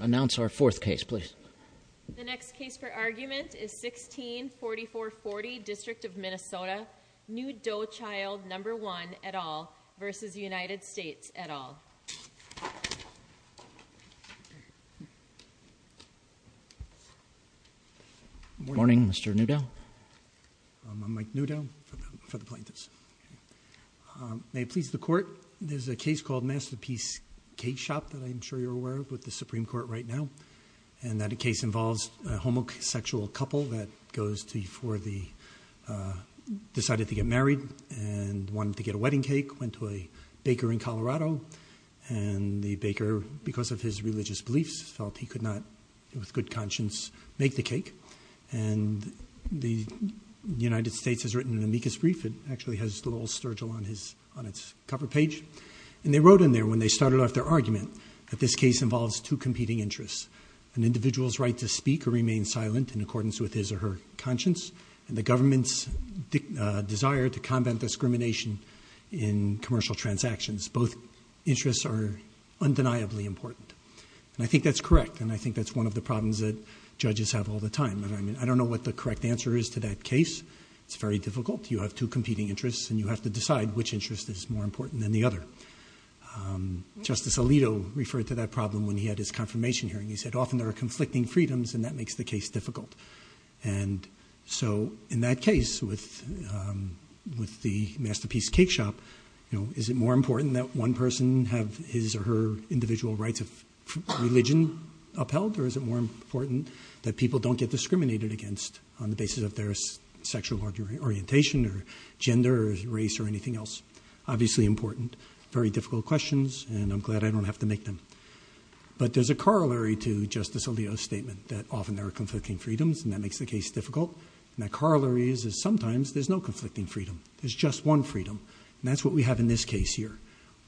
Announce our fourth case, please. The next case for argument is 164440, District of Minnesota, New Doe Child No. 1 et al. v. United States et al. Morning, Mr. Newdow. I'm Mike Newdow for the plaintiffs. May it please the court, there's a case called Masterpiece Cake Shop that I'm sure you're aware of with the Supreme Court right now. And that a case involves a homosexual couple that goes to for the decided to get married and wanted to get a wedding cake, went to a baker in Colorado and the baker, because of his religious beliefs, felt he could not, with good conscience, make the cake. And the United States has written an amicus brief. It actually has little Sturgill on his on its cover page. And they wrote in there when they started off their argument that this case involves two competing interests, an individual's right to speak or remain silent in accordance with his or her conscience and the government's desire to combat discrimination in commercial transactions. Both interests are undeniably important. And I think that's correct. And I think that's one of the problems that judges have all the time. And I mean, I don't know what the correct answer is to that case. It's very difficult. You have two competing interests and you have to decide which interest is more important than the other. Justice Alito referred to that problem when he had his confirmation hearing. He said, often there are conflicting freedoms and that makes the case difficult. And so in that case, with with the masterpiece cake shop, you know, is it more important that one person have his or her individual rights of religion upheld? Or is it more important that people don't get discriminated against on the basis of their sexual orientation or gender, race or anything else, obviously important, very difficult questions. And I'm glad I don't have to make them. But there's a corollary to Justice Alito's statement that often there are conflicting freedoms and that makes the case difficult. And that corollary is, is sometimes there's no conflicting freedom. There's just one freedom. And that's what we have in this case here.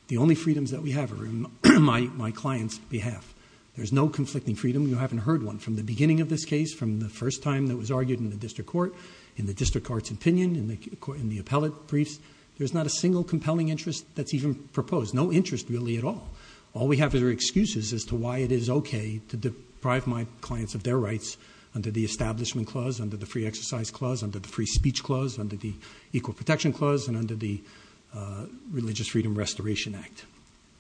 The only freedoms that we have are in my client's behalf. There's no conflicting freedom. You haven't heard one from the beginning of this case, from the first time that was argued in the district court, in the district court's opinion, in the appellate briefs. There's not a single compelling interest that's even proposed, no interest really at all. All we have is our excuses as to why it is okay to deprive my clients of their rights under the Establishment Clause, under the Free Exercise Clause, under the Free Speech Clause, under the Equal Protection Clause and under the Religious Freedom Restoration Act.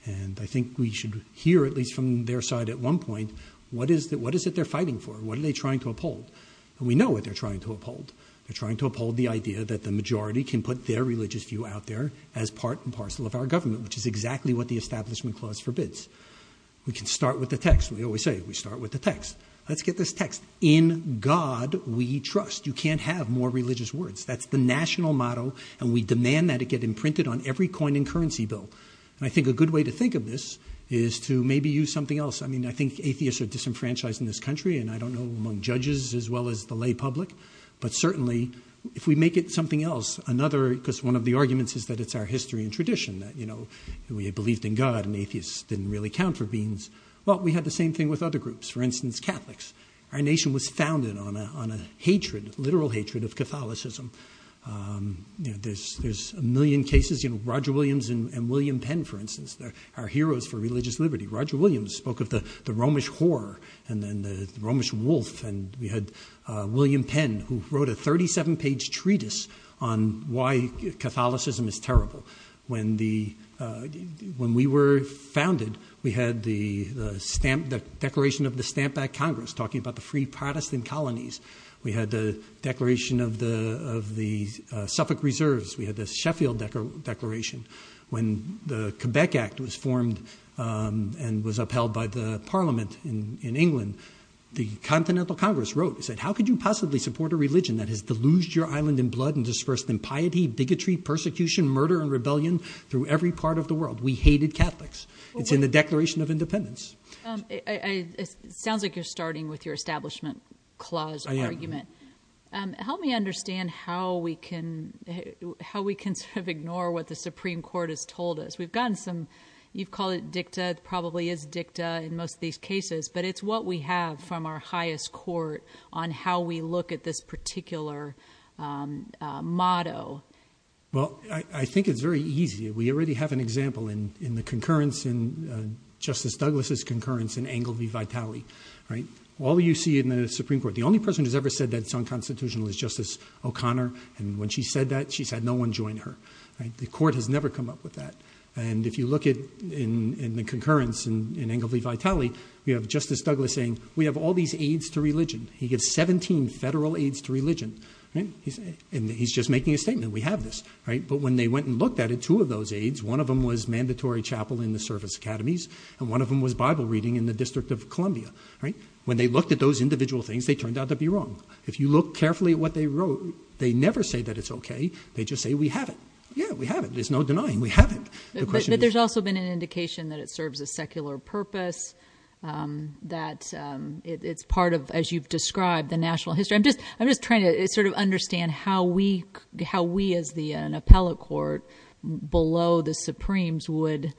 And I think we should hear at least from their side at one point, what is it they're fighting for? What are they trying to uphold? And we know what they're trying to uphold. They're trying to uphold the idea that the majority can put their religious view out there as part and parcel of our government, which is exactly what the Establishment Clause forbids. We can start with the text. We always say, we start with the text. Let's get this text. In God we trust. You can't have more religious words. That's the national motto and we demand that it get imprinted on every coin and currency bill. And I think a good way to think of this is to maybe use something else. I mean, I think atheists are disenfranchised in this country and I don't know among judges as well as the lay public. But certainly, if we make it something else, another, because one of the arguments is that it's our history and tradition that, you know, we believed in God and atheists didn't really count for beings. Well, we had the same thing with other groups. For instance, Catholics. Our nation was founded on a hatred, a literal hatred of Catholicism. You know, there's a million cases. You know, Roger Williams and William Penn, for instance, they're our heroes for religious liberty. Roger Williams spoke of the Romish whore and then the Romish wolf and we had William Penn who wrote a 37-page treatise on why Catholicism is terrible. When the, when we were founded, we had the stamp, the declaration of the Stamp Act Congress talking about the free Protestant colonies. We had the declaration of the Suffolk Reserves. We had the Sheffield Declaration. When the Quebec Act was formed and was upheld by the parliament in England, the Continental Congress wrote and said, how could you possibly support a religion that has deluged your island in blood and dispersed in piety, bigotry, persecution, murder, and rebellion through every part of the world? We hated Catholics. It's in the Declaration of Independence. It sounds like you're starting with your establishment clause argument. Help me understand how we can sort of ignore what the Supreme Court has told us. We've gotten some, you've called it dicta, it probably is dicta in most of these cases, but it's what we have from our highest court on how we look at this particular motto. Well, I think it's very easy. We already have an example in the concurrence in Justice Douglas' concurrence in Engle v. Vitale, right? All you see in the Supreme Court, the only person who's ever said that it's unconstitutional is Justice O'Connor. And when she said that, she said no one joined her, right? The court has never come up with that. And if you look at in the concurrence in Engle v. Vitale, we have Justice Douglas saying, we have all these aides to religion. He has 17 federal aides to religion, right? And he's just making a statement. We have this, right? But when they went and looked at it, two of those aides, one of them was mandatory chapel in the service academies, and one of them was Bible reading in the District of Columbia, right? When they looked at those individual things, they turned out to be wrong. If you look carefully at what they wrote, they never say that it's okay. They just say we have it. Yeah, we have it. There's no denying we have it. But there's also been an indication that it serves a secular purpose, that it's part of, as you've described, the national history. I'm just trying to sort of understand how we as an appellate court below the Supremes would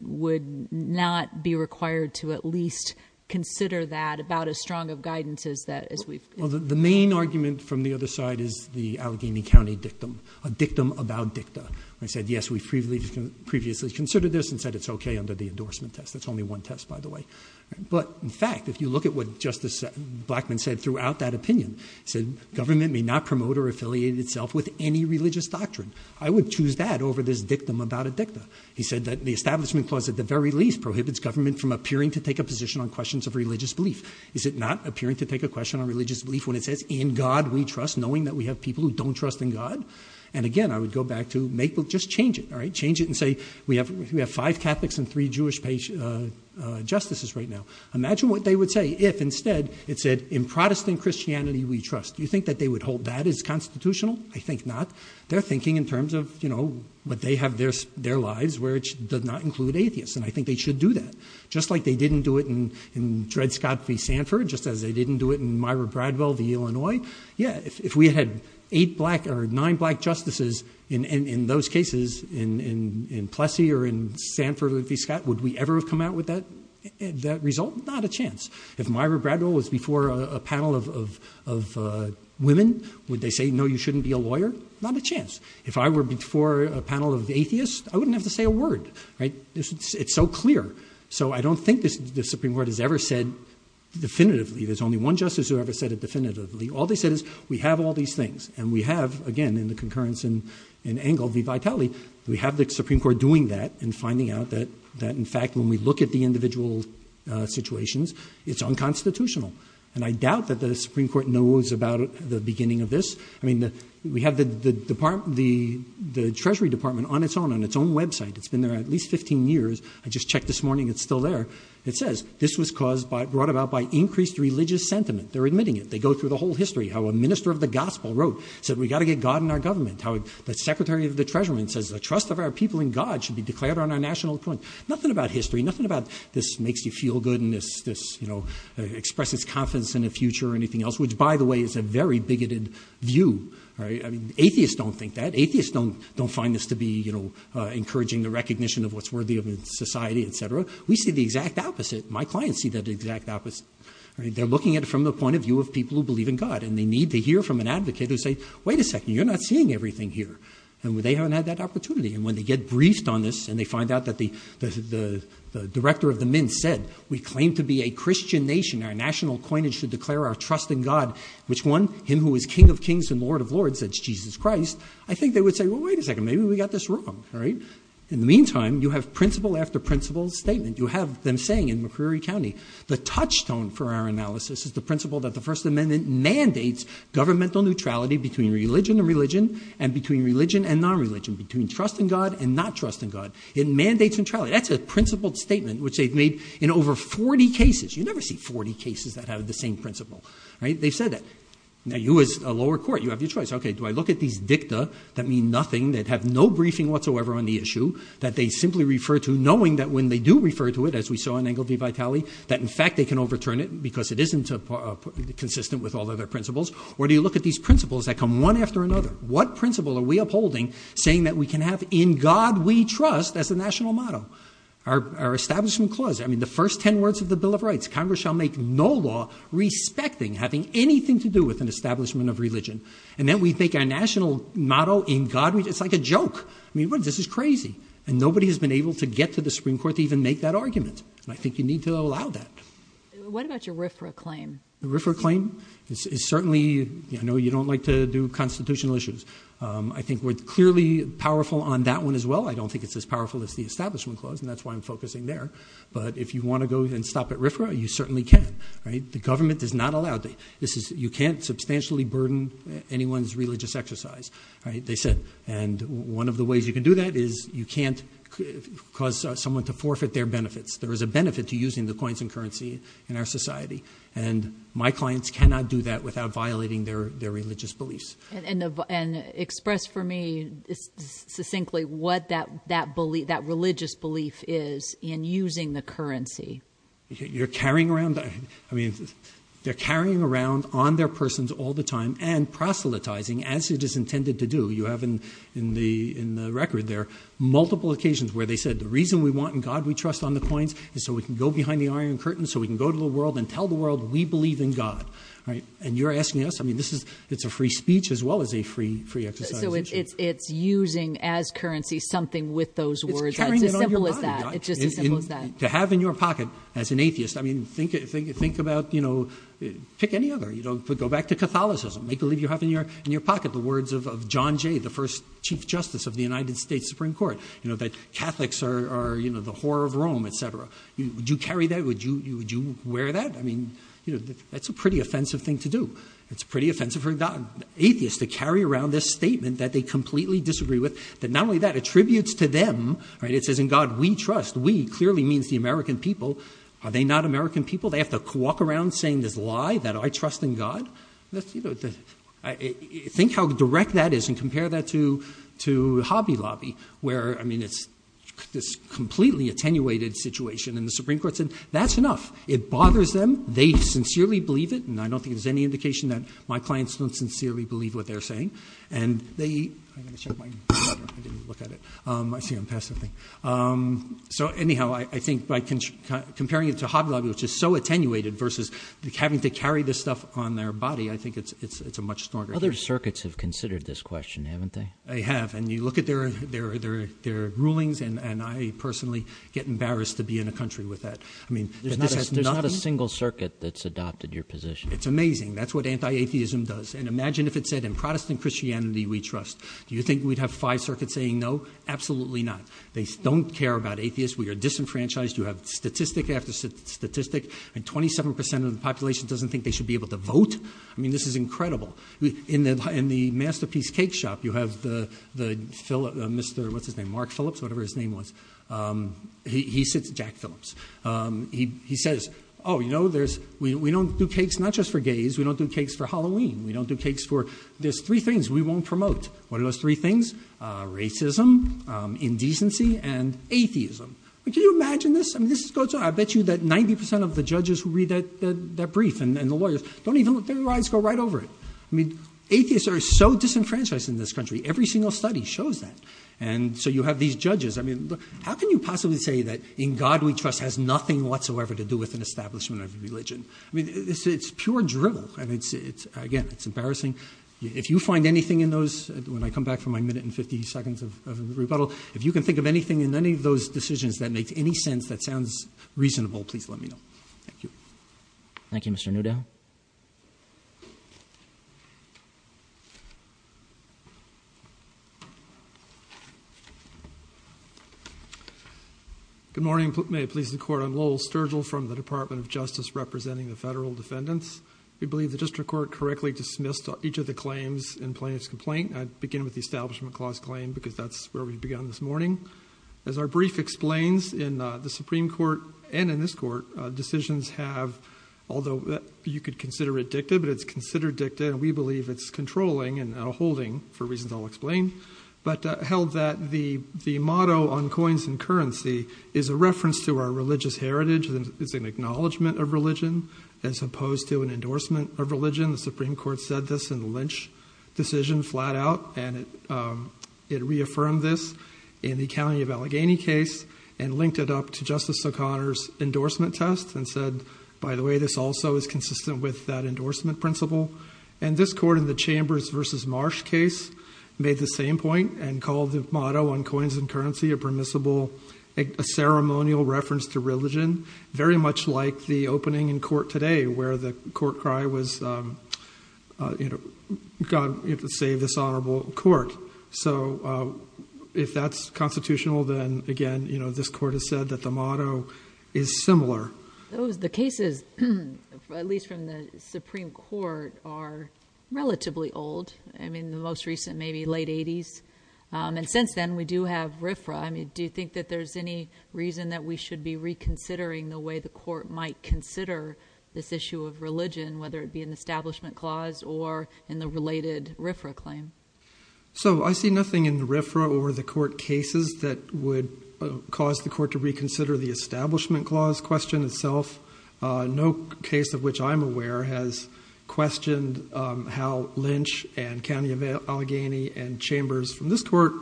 not be required to at least consider that about as strong of guidance as we've. Well, the main argument from the other side is the Allegheny County dictum, a dictum about dicta. They said, yes, we've previously considered this and said it's okay under the endorsement test. That's only one test, by the way. But in fact, if you look at what Justice Blackmun said throughout that opinion, he said, government may not promote or affiliate itself with any religious doctrine. I would choose that over this dictum about a dicta. He said that the establishment clause at the very least prohibits government from appearing to take a position on questions of religious belief. Is it not appearing to take a question on religious belief when it says in God we trust, knowing that we have people who don't trust in God? And again, I would go back to just change it, all right? Change it and say we have five Catholics and three Jewish justices right now. Imagine what they would say if instead it said in Protestant Christianity we trust. Do you think that they would hold that as constitutional? I think not. They're thinking in terms of, you know, what they have their lives where it does not include atheists. And I think they should do that. Just like they didn't do it in Dred Scott v. Sanford, just as they didn't do it in Myra Bradwell v. Illinois. Yeah, if we had eight black or nine black justices in those cases in Plessy or in Sanford v. Scott, would we ever have come out with that result? Not a chance. If Myra Bradwell was before a panel of women, would they say, no, you shouldn't be a lawyer? Not a chance. If I were before a panel of atheists, I wouldn't have to say a word, right? It's so clear. So I don't think the Supreme Court has ever said definitively there's only one justice who ever said it definitively. All they said is we have all these things and we have, again, in the concurrence in Engel v. Vitale, we have the Supreme Court doing that and finding out that, in fact, when we look at the individual situations, it's unconstitutional. And I doubt that the Supreme Court knows about the beginning of this. I mean, we have the department, the Treasury Department on its own, on its own website. It's been there at least 15 years. I just checked this morning. It's still there. It says this was caused by, brought about by increased religious sentiment. They're admitting it. They go through the whole history, how a minister of the gospel wrote, said we've got to get God in our government, how the secretary of the treasury says the trust of our people in God should be declared on our national point. Nothing about history. Nothing about this makes you feel good and this, you know, expresses confidence in the future or anything else, which, by the way, is a very bigoted view, right? I mean, atheists don't think that. Atheists don't find this to be, you know, encouraging the recognition of what's worthy of a society, et cetera. We see the exact opposite. My clients see the exact opposite. They're looking at it from the point of view of people who believe in God and they need to hear from an advocate who say, wait a second, you're not seeing everything here. And they haven't had that opportunity. And when they get briefed on this and they find out that the director of the Minsk said we claim to be a Christian nation, our national coinage to declare our trust in God, which one? Him who is king of kings and lord of lords, that's Jesus Christ. I think they would say, well, wait a second, maybe we got this wrong, all right? In the meantime, you have principle after principle statement. You have them saying in McCreary County, the touchstone for our analysis is the principle that the first amendment mandates governmental neutrality between religion and religion and between religion and non-religion, between trust in God and not trust in God. It mandates neutrality. That's a principled statement which they've made in over 40 cases. You never see 40 cases that have the same principle, right? They've said that. Now, you as a lower court, you have your choice. Okay, do I look at these dicta that mean nothing that have no briefing whatsoever on the issue that they simply refer to knowing that when they do refer to it, as we saw in Engle v. Vitali, that in fact, they can overturn it because it isn't consistent with all of their principles? Or do you look at these principles that come one after another? What principle are we upholding saying that we can have in God we trust as a national motto? Our establishment clause, I mean, the first 10 words of the Bill of Rights, Congress shall make no law respecting, having anything to do with an establishment of religion. And then we make our national motto in God, it's like a joke. I mean, this is crazy. And nobody has been able to get to the Supreme Court to even make that argument. And I think you need to allow that. What about your RFRA claim? The RFRA claim is certainly, you know, you don't like to do constitutional issues. I think we're clearly powerful on that one as well. I don't think it's as powerful as the establishment clause. And that's why I'm focusing there. But if you want to go and stop at RFRA, you certainly can. Right? The government does not allow that. This is, you can't substantially burden anyone's religious exercise, right? They said. And one of the ways you can do that is you can't cause someone to forfeit their benefits. There is a benefit to using the coins and currency in our society. And my clients cannot do that without violating their religious beliefs. And express for me succinctly what that belief, that religious belief is in using the currency. You're carrying around, I mean, they're carrying around on their persons all the time and proselytizing as it is intended to do. You have in the record there multiple occasions where they said the reason we want and God we trust on the coins is so we can go behind the iron curtain so we can go to the world and tell the world we believe in God. Right? And you're asking us, I mean, this is, it's a free speech as well as a free exercise. So it's using as currency something with those words. It's as simple as that. It's just as simple as that. To have in your pocket as an atheist, I mean, think about, you know, pick any other. You know, go back to Catholicism. Make believe you have in your pocket the words of John Jay, the first Chief Justice of the United States Supreme Court. You know, that Catholics are, you know, the whore of Rome, et cetera. Would you carry that? Would you wear that? I mean, you know, that's a pretty offensive thing to do. It's pretty offensive for atheists to carry around this statement that they completely disagree with. That not only that, it tributes to them, right? It says in God we trust. We clearly means the American people. Are they not American people? They have to walk around saying this lie that I trust in God? That's, you know, think how direct that is and compare that to Hobby Lobby where, I mean, it's this completely attenuated situation and the Supreme Court said that's enough. It bothers them. They sincerely believe it and I don't think there's any indication that my clients don't sincerely believe what they're saying. And they, I'm going to check my, I didn't look at it. I see I'm past something. So, anyhow, I think by comparing it to Hobby Lobby which is so attenuated versus having to carry this stuff on their body, I think it's a much stronger. Other circuits have considered this question, haven't they? They have and you look at their rulings and I personally get embarrassed to be in a country with that. I mean, there's not a single circuit that's adopted your position. It's amazing. That's what anti-atheism does. And imagine if it said in Protestant Christianity we trust. Do you think we'd have five circuits saying no? Absolutely not. They don't care about atheists. We are disenfranchised. You have statistic after statistic and 27% of the population doesn't think they should be able to vote. I mean, this is incredible. In the Masterpiece Cake Shop, you have the Phil, Mr. what's his name, Mark Phillips, whatever his name was. He sits, Jack Phillips. He says, oh, you know, there's, we don't do cakes not just for gays, we don't do cakes for Halloween. We don't do cakes for, there's three things we won't promote. What are those three things? Racism, indecency, and atheism. Can you imagine this? I mean, this goes on. I bet you that 90% of the judges who read that brief and the lawyers don't even, their eyes go right over it. I mean, atheists are so disenfranchised in this country. Every single study shows that. And so you have these judges. I mean, how can you possibly say that in God we trust has nothing whatsoever to do with an establishment of religion? I mean, it's pure drivel. And it's, again, it's embarrassing. If you find anything in those, when I come back for my minute and 50 seconds of rebuttal, if you can think of anything in any of those decisions that makes any sense that sounds reasonable, please let me know. Thank you. Thank you, Mr. Newdow. Good morning. May it please the court. I'm Lowell Sturgill from the Department of Justice representing the federal defendants. We believe the district court correctly dismissed each of the claims in plaintiff's complaint. I'd begin with the establishment clause claim because that's where we began this morning. As our brief explains in the Supreme Court and in this court, decisions have, although you could consider it dicta, but it's considered dicta and we believe it's controlling and now holding for reasons I'll explain, but held that the, the motto on coins and currency is a reference to our religious heritage and it's an acknowledgement of religion as opposed to an endorsement of religion. The Supreme Court said this in the Lynch decision flat out. And it reaffirmed this in the County of Allegheny case and linked it up to Justice O'Connor's endorsement test and said, by the way, this also is consistent with that endorsement principle and this court in the Chambers versus Marsh case made the same point and called the motto on coins and currency, a permissible, a ceremonial reference to religion, very much like the opening in court today where the court cry was, you know, God, you have to save this honorable court. So if that's constitutional, then again, you know, this court has said that the motto is similar. Those, the cases, at least from the Supreme Court are relatively old. I mean, the most recent, maybe late eighties. And since then we do have RFRA. I mean, do you think that there's any reason that we should be reconsidering the way the court might consider this issue of religion, whether it be an establishment clause or in the related RFRA claim? So I see nothing in the RFRA or the court cases that would cause the court to reconsider the establishment clause question itself. No case of which I'm aware has questioned how Lynch and County of Allegheny and Chambers from this court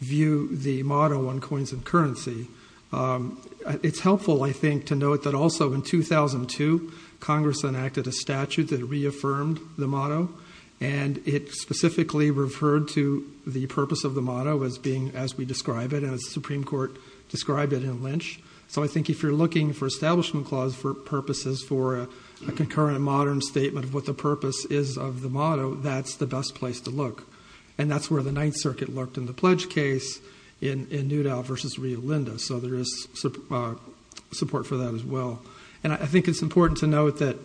view the motto on coins and currency. It's helpful, I think, to note that also in 2002, Congress enacted a statute that reaffirmed the motto and it specifically referred to the purpose of the motto as being, as we describe it, as Supreme Court described it in Lynch. So I think if you're looking for establishment clause for purposes, for a concurrent modern statement of what the purpose is of the motto, that's the best place to look. And that's where the Ninth Circuit looked in the pledge case in Newdale versus Rio Linda. So there is support for that as well. And I think it's important to note that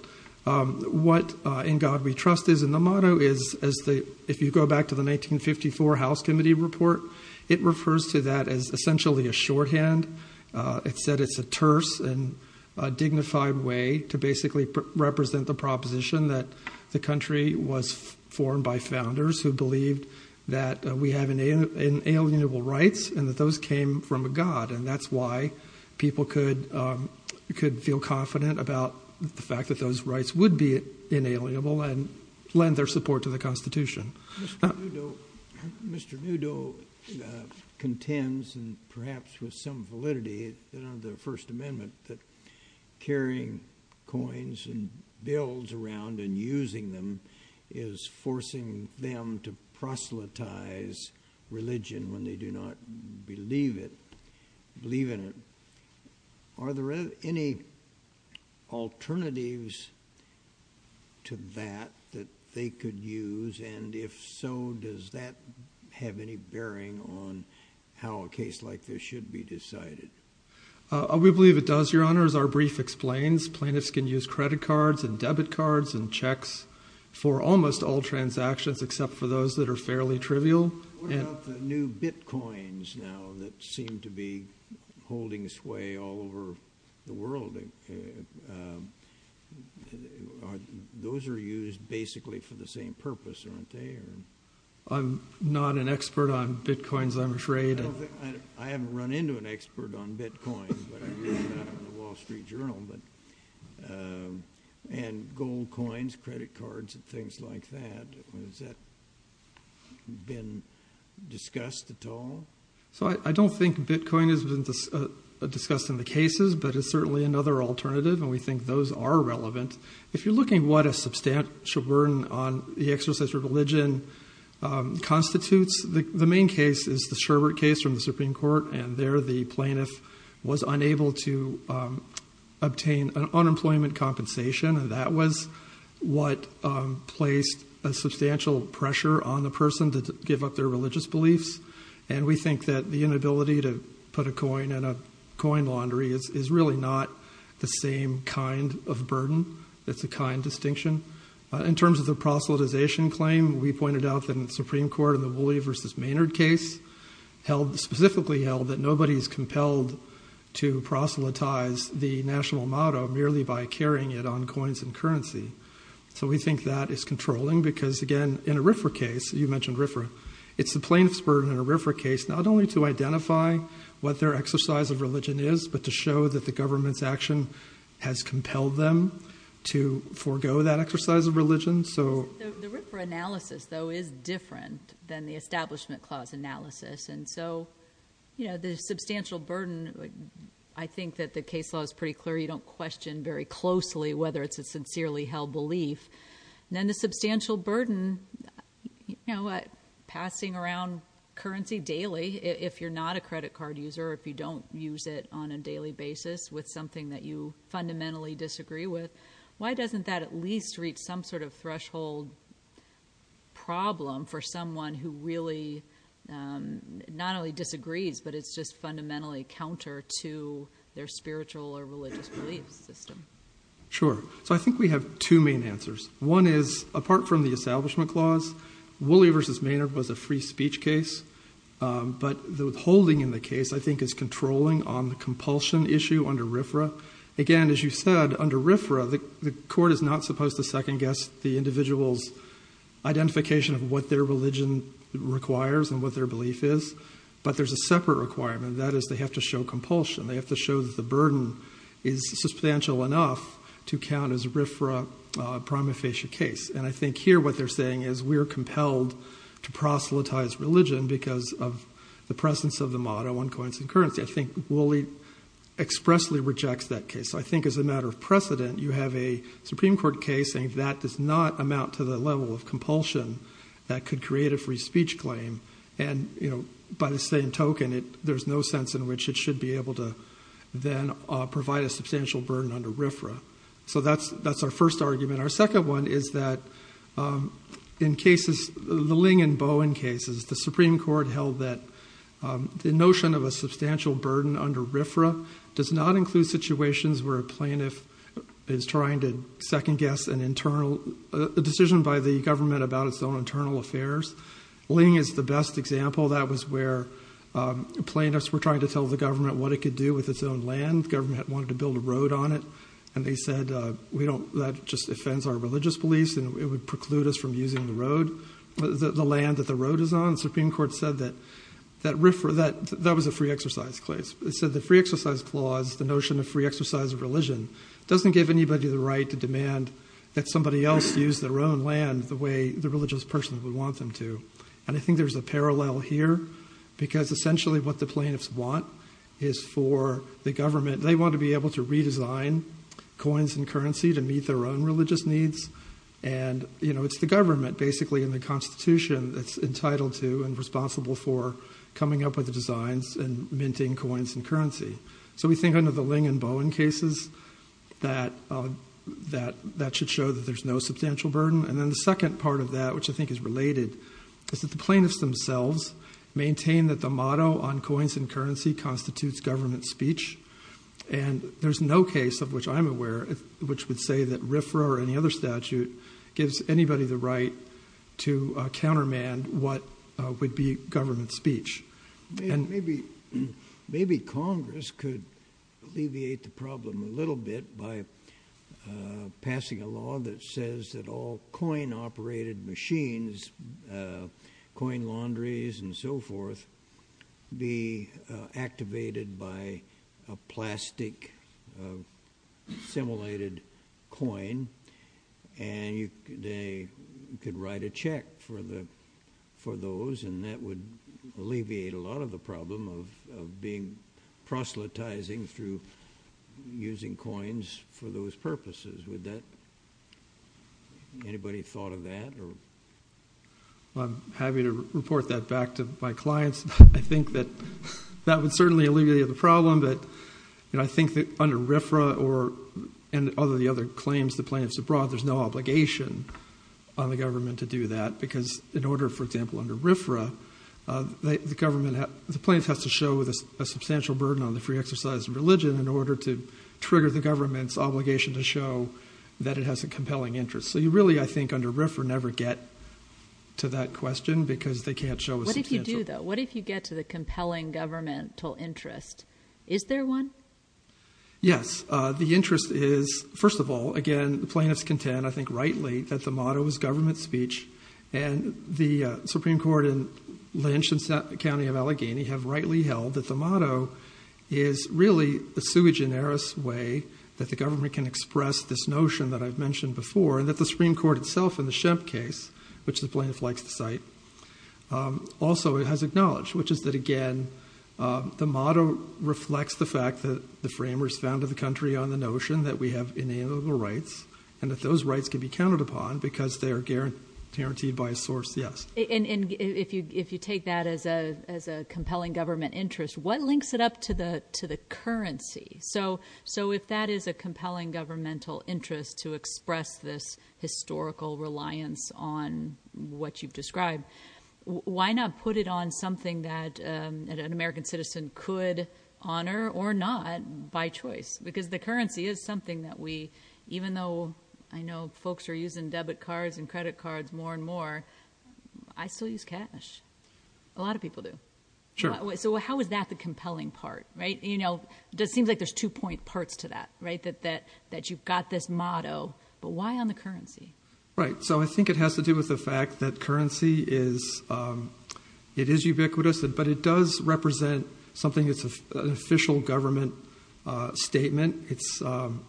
what in God we trust is in the motto is as the, if you go back to the 1954 House Committee report, it refers to that as essentially a shorthand, it said it's a terse and dignified way to basically represent the proposition that the country was formed by founders who believed that we have inalienable rights and that those came from a God. And that's why people could feel confident about the fact that those rights would be inalienable and lend their support to the constitution. Mr. Newdow contends, and perhaps with some validity that under the first amendment that carrying coins and bills around and using them is forcing them to proselytize religion when they do not believe it, believe in it. Are there any alternatives to that, that they could use and if so, does that have any bearing on how a case like this should be decided? I would believe it does. Your honor, as our brief explains, plaintiffs can use credit cards and debit cards and checks for almost all transactions, except for those that are fairly trivial. What about the new bitcoins now that seem to be holding sway all over the world? Those are used basically for the same purpose, aren't they? I'm not an expert on bitcoins. I'm afraid I haven't run into an expert on bitcoins, but I read it up in the wall street journal, but, and gold coins, credit cards and things like that. Has that been discussed at all? So I don't think bitcoin has been discussed in the cases, but it's certainly another alternative. And we think those are relevant. If you're looking what a substantial burden on the exerciser of religion constitutes, the main case is the Sherbert case from the Supreme court. And there the plaintiff was unable to obtain an unemployment compensation. And that was what placed a substantial pressure on the person to give up their religious beliefs. And we think that the inability to put a coin in a coin laundry is really not the same kind of burden. That's a kind distinction. In terms of the proselytization claim, we pointed out that in the Supreme court and the Woolley versus Maynard case held specifically held that nobody's compelled to proselytize the national motto merely by carrying it on coins and currency. So we think that is controlling because again, in a RFRA case, you mentioned RFRA, it's the plaintiff's burden in a RFRA case, not only to identify what their exercise of religion is, but to show that the government's action has compelled them to forego that exercise of religion. So the RFRA analysis though is different than the establishment clause analysis. And so, you know, the substantial burden, I think that the case law is pretty clear. You don't question very closely whether it's a sincerely held belief and then the substantial burden, you know, passing around currency daily, if you're not a credit card user, if you don't use it on a daily basis with something that you disagree with, why doesn't that at least reach some sort of threshold problem for someone who really not only disagrees, but it's just fundamentally counter to their spiritual or religious belief system. Sure. So I think we have two main answers. One is apart from the establishment clause, Woolley versus Maynard was a free speech case. Um, but the withholding in the case I think is controlling on the compulsion issue under RFRA. Again, as you said, under RFRA, the court is not supposed to second guess the individual's identification of what their religion requires and what their belief is, but there's a separate requirement that is they have to show compulsion. They have to show that the burden is substantial enough to count as RFRA prima facie case. And I think here, what they're saying is we're compelled to proselytize religion because of the presence of the motto on coins and currency. I think Woolley expressly rejects that case. I think as a matter of precedent, you have a Supreme court case saying that does not amount to the level of compulsion that could create a free speech claim. And, you know, by the same token, it, there's no sense in which it should be able to then provide a substantial burden under RFRA. So that's, that's our first argument. Our second one is that, um, in cases, the Ling and Bowen cases, the Supreme court held that, um, the notion of a burden under RFRA does not include situations where a plaintiff is trying to second guess an internal decision by the government about its own internal affairs. Ling is the best example. That was where, um, plaintiffs were trying to tell the government what it could do with its own land. Government wanted to build a road on it. And they said, uh, we don't, that just offends our religious beliefs and it would preclude us from using the road, the land that the road is on. Supreme court said that, that RFRA, that that was a free exercise clause. It said the free exercise clause, the notion of free exercise of religion, doesn't give anybody the right to demand that somebody else use their own land the way the religious person would want them to. And I think there's a parallel here because essentially what the plaintiffs want is for the government, they want to be able to redesign coins and currency to meet their own religious needs. And, you know, it's the government basically in the constitution that's entitled to and responsible for coming up with the designs and minting coins and currency. So we think under the Ling and Bowen cases that, uh, that, that should show that there's no substantial burden. And then the second part of that, which I think is related, is that the plaintiffs themselves maintain that the motto on coins and currency constitutes government speech. And there's no case of which I'm aware of, which would say that RFRA or any other statute gives anybody the right to countermand what would be government speech. And maybe, maybe Congress could alleviate the problem a little bit by, uh, passing a law that says that all coin operated machines, uh, coin laundries and so forth be, uh, activated by a plastic, uh, simulated coin. And you, they could write a check for the, for those, and that would alleviate a lot of the problem of, of being proselytizing through using coins for those purposes. Would that, anybody thought of that or? I'm happy to report that back to my clients. I think that that would certainly alleviate the problem, but, you know, I think that under RFRA or, and other, the other claims the plaintiffs have brought, there's no obligation on the government to do that because in order, for example, under RFRA, uh, the government, the plaintiff has to show a substantial burden on the free exercise of religion in order to trigger the government's obligation to show that it has a compelling interest. So you really, I think under RFRA never get to that question because they can't show a substantial... What if you do though? What if you get to the compelling governmental interest? Is there one? Yes. Uh, the interest is, first of all, again, the plaintiffs contend, I think rightly that the motto is government speech and the Supreme Court in Lynch and County of Allegheny have rightly held that the motto is really a sui generis way that the government can express this notion that I've mentioned before and that the Supreme Court itself in the Shemp case, which the plaintiff likes to cite, um, also has acknowledged, which is that again, um, the motto reflects the fact that the framers founded the country on the notion that we have inalienable rights and that those rights can be counted upon because they are guaranteed by a source. Yes. And if you, if you take that as a, as a compelling government interest, what links it up to the, to the currency? So, so if that is a compelling governmental interest to express this historical reliance on what you've described, why not put it on something that, um, an American citizen could honor or not by choice? Because the currency is something that we, even though I know folks are using debit cards and credit cards more and more, I still use cash. A lot of people do. Sure. So how is that the compelling part, right? You know, that seems like there's two point parts to that, right? That, that, that you've got this motto, but why on the currency? Right. So I think it has to do with the fact that currency is, um, it is ubiquitous, but it does represent something that's an official government, uh, statement. It's, um,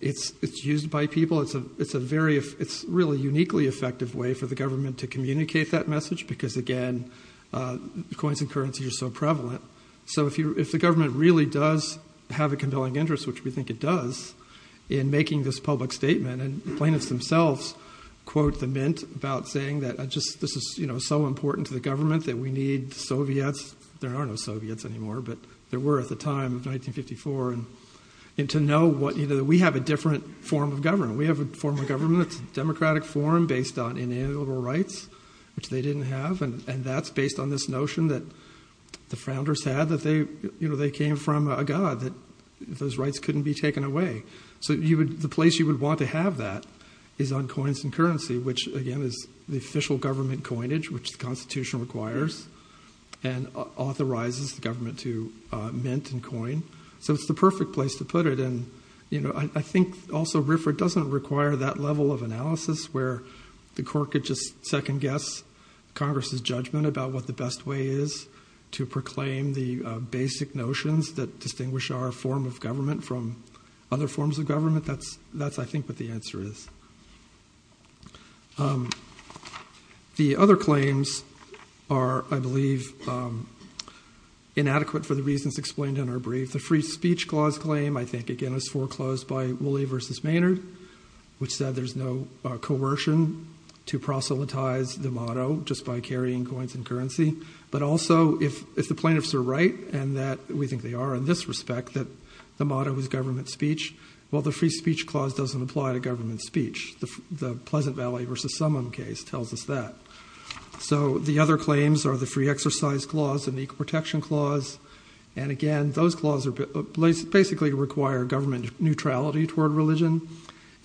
it's, it's used by people. It's a, it's a very, it's really uniquely effective way for the government to communicate that message. Because again, uh, coins and currency are so prevalent. So if you, if the government really does have a compelling interest, which we think it does in making this public statement and plaintiffs themselves quote the mint about saying that I just, this is so important to the government that we need Soviets. There are no Soviets anymore, but there were at the time of 1954. And to know what, you know, that we have a different form of government. We have a form of government that's democratic forum based on inalienable rights, which they didn't have. And that's based on this notion that the founders had that they, you know, they came from a God that those rights couldn't be taken away. So you would, the place you would want to have that is on coins and currency, which again is the official government coinage, which the constitution requires and authorizes the government to mint and coin. So it's the perfect place to put it. And, you know, I think also RIFRA doesn't require that level of analysis where the court could just second guess Congress's judgment about what the best way is to proclaim the basic notions that distinguish our form of government from other forms of government. That's, that's, I think what the answer is. Um, the other claims are, I believe, um, inadequate for the reasons explained in our brief, the free speech clause claim, I think, again, is foreclosed by Woolley versus Maynard, which said there's no coercion to proselytize the motto just by carrying coins and currency, but also if, if the plaintiffs are right and that we think they are in this respect, that the motto is government speech while the free speech clause doesn't apply to government speech, the Pleasant Valley versus Summon case tells us that. So the other claims are the free exercise clause and equal protection clause. And again, those clauses are basically require government neutrality toward religion,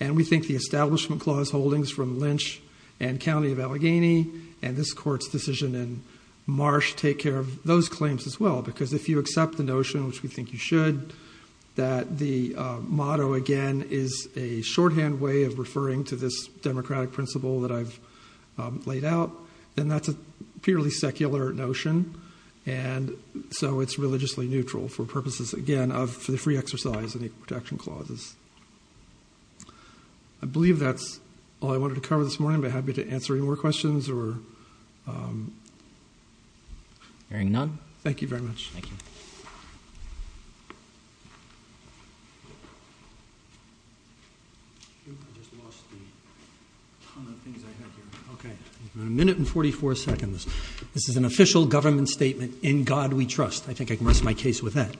and we think the establishment clause holdings from Lynch and County of Allegheny and this court's decision in Marsh take care of those claims as well. Because if you accept the notion, which we think you should, that the, uh, motto again is a shorthand way of referring to this democratic principle that I've laid out, then that's a purely secular notion. And so it's religiously neutral for purposes, again, of the free exercise and equal protection clauses. I believe that's all I wanted to cover this morning, but happy to answer any more questions or, um. Hearing none. Thank you very much. Thank you. I just lost the ton of things I had here. Okay. A minute and 44 seconds. This is an official government statement in God. We trust. I think I can rest my case with that.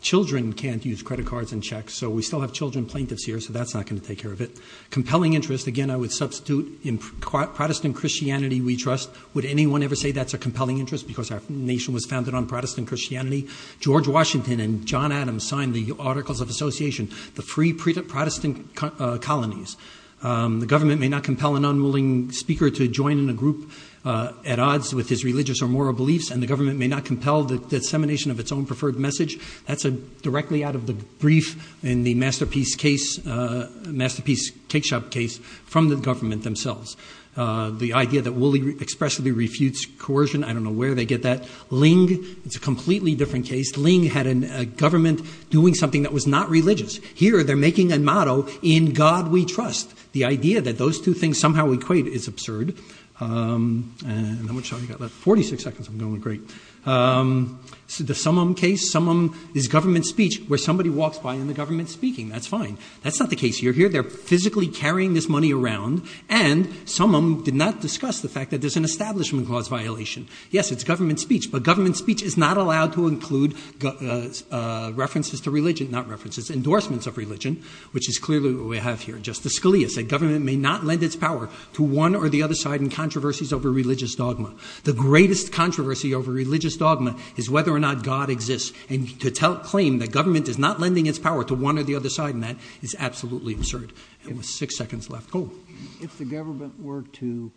Children can't use credit cards and checks. So we still have children plaintiffs here. So that's not going to take care of it. Compelling interest. Again, I would substitute in Protestant Christianity. We trust. Would anyone ever say that's a compelling interest? Because our nation was founded on Protestant Christianity, George Washington, and John Adams signed the articles of association, the free pre-Protestant colonies. Um, the government may not compel an unwilling speaker to join in a group, uh, at odds with his religious or moral beliefs and the government may not compel the dissemination of its own preferred message that's a directly out of the brief and the masterpiece case, a masterpiece cake shop case from the government themselves. Uh, the idea that Wooley expressively refutes coercion. I don't know where they get that. Ling. It's a completely different case. Ling had a government doing something that was not religious here. They're making a motto in God. We trust the idea that those two things somehow equate is absurd. Um, and how much time you got left? 46 seconds. I'm going great. Um, so the sum of them case, some of them is government speech where somebody walks by in the government speaking. That's fine. That's not the case. You're here. They're physically carrying this money around. And some of them did not discuss the fact that there's an establishment clause violation. Yes, it's government speech, but government speech is not allowed to include, uh, uh, references to religion, not references, endorsements of religion, which is clearly what we have here. Justice Scalia said government may not lend its power to one or the other side and controversies over religious dogma, the greatest controversy over religious dogma is whether or not God exists and to tell, claim that government is not lending its power to one or the other side. And that is absolutely absurd. It was six seconds left. Cool. If the government were to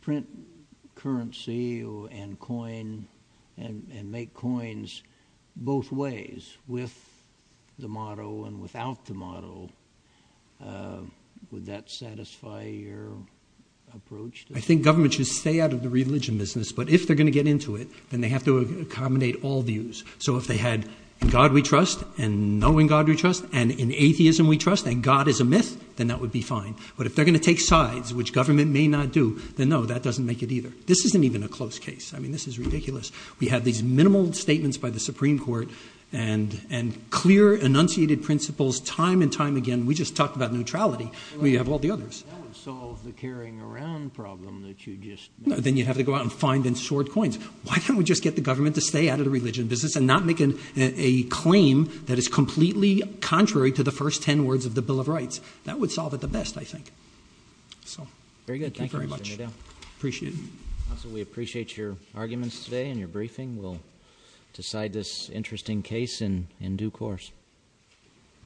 print currency and coin and make coins both ways with the model and without the model, uh, would that satisfy your approach? I think government should stay out of the religion business, but if they're going to get into it, then they have to accommodate all views. So if they had God, we trust and knowing God, we trust and in atheism, we trust and God is a myth, then that would be fine, but if they're going to take sides, which government may not do, then no, that doesn't make it either. This isn't even a close case. I mean, this is ridiculous. We have these minimal statements by the Supreme court and, and clear enunciated principles time and time again. We just talked about neutrality. We have all the others. That would solve the carrying around problem that you just, then you'd have to go out and find and short coins. Why don't we just get the government to stay out of the religion business and not making a claim that is completely contrary to the first 10 words of the bill of rights. That would solve it the best. I think so. Very good. Thank you very much. Appreciate it. So we appreciate your arguments today and your briefing. We'll decide this interesting case in due course.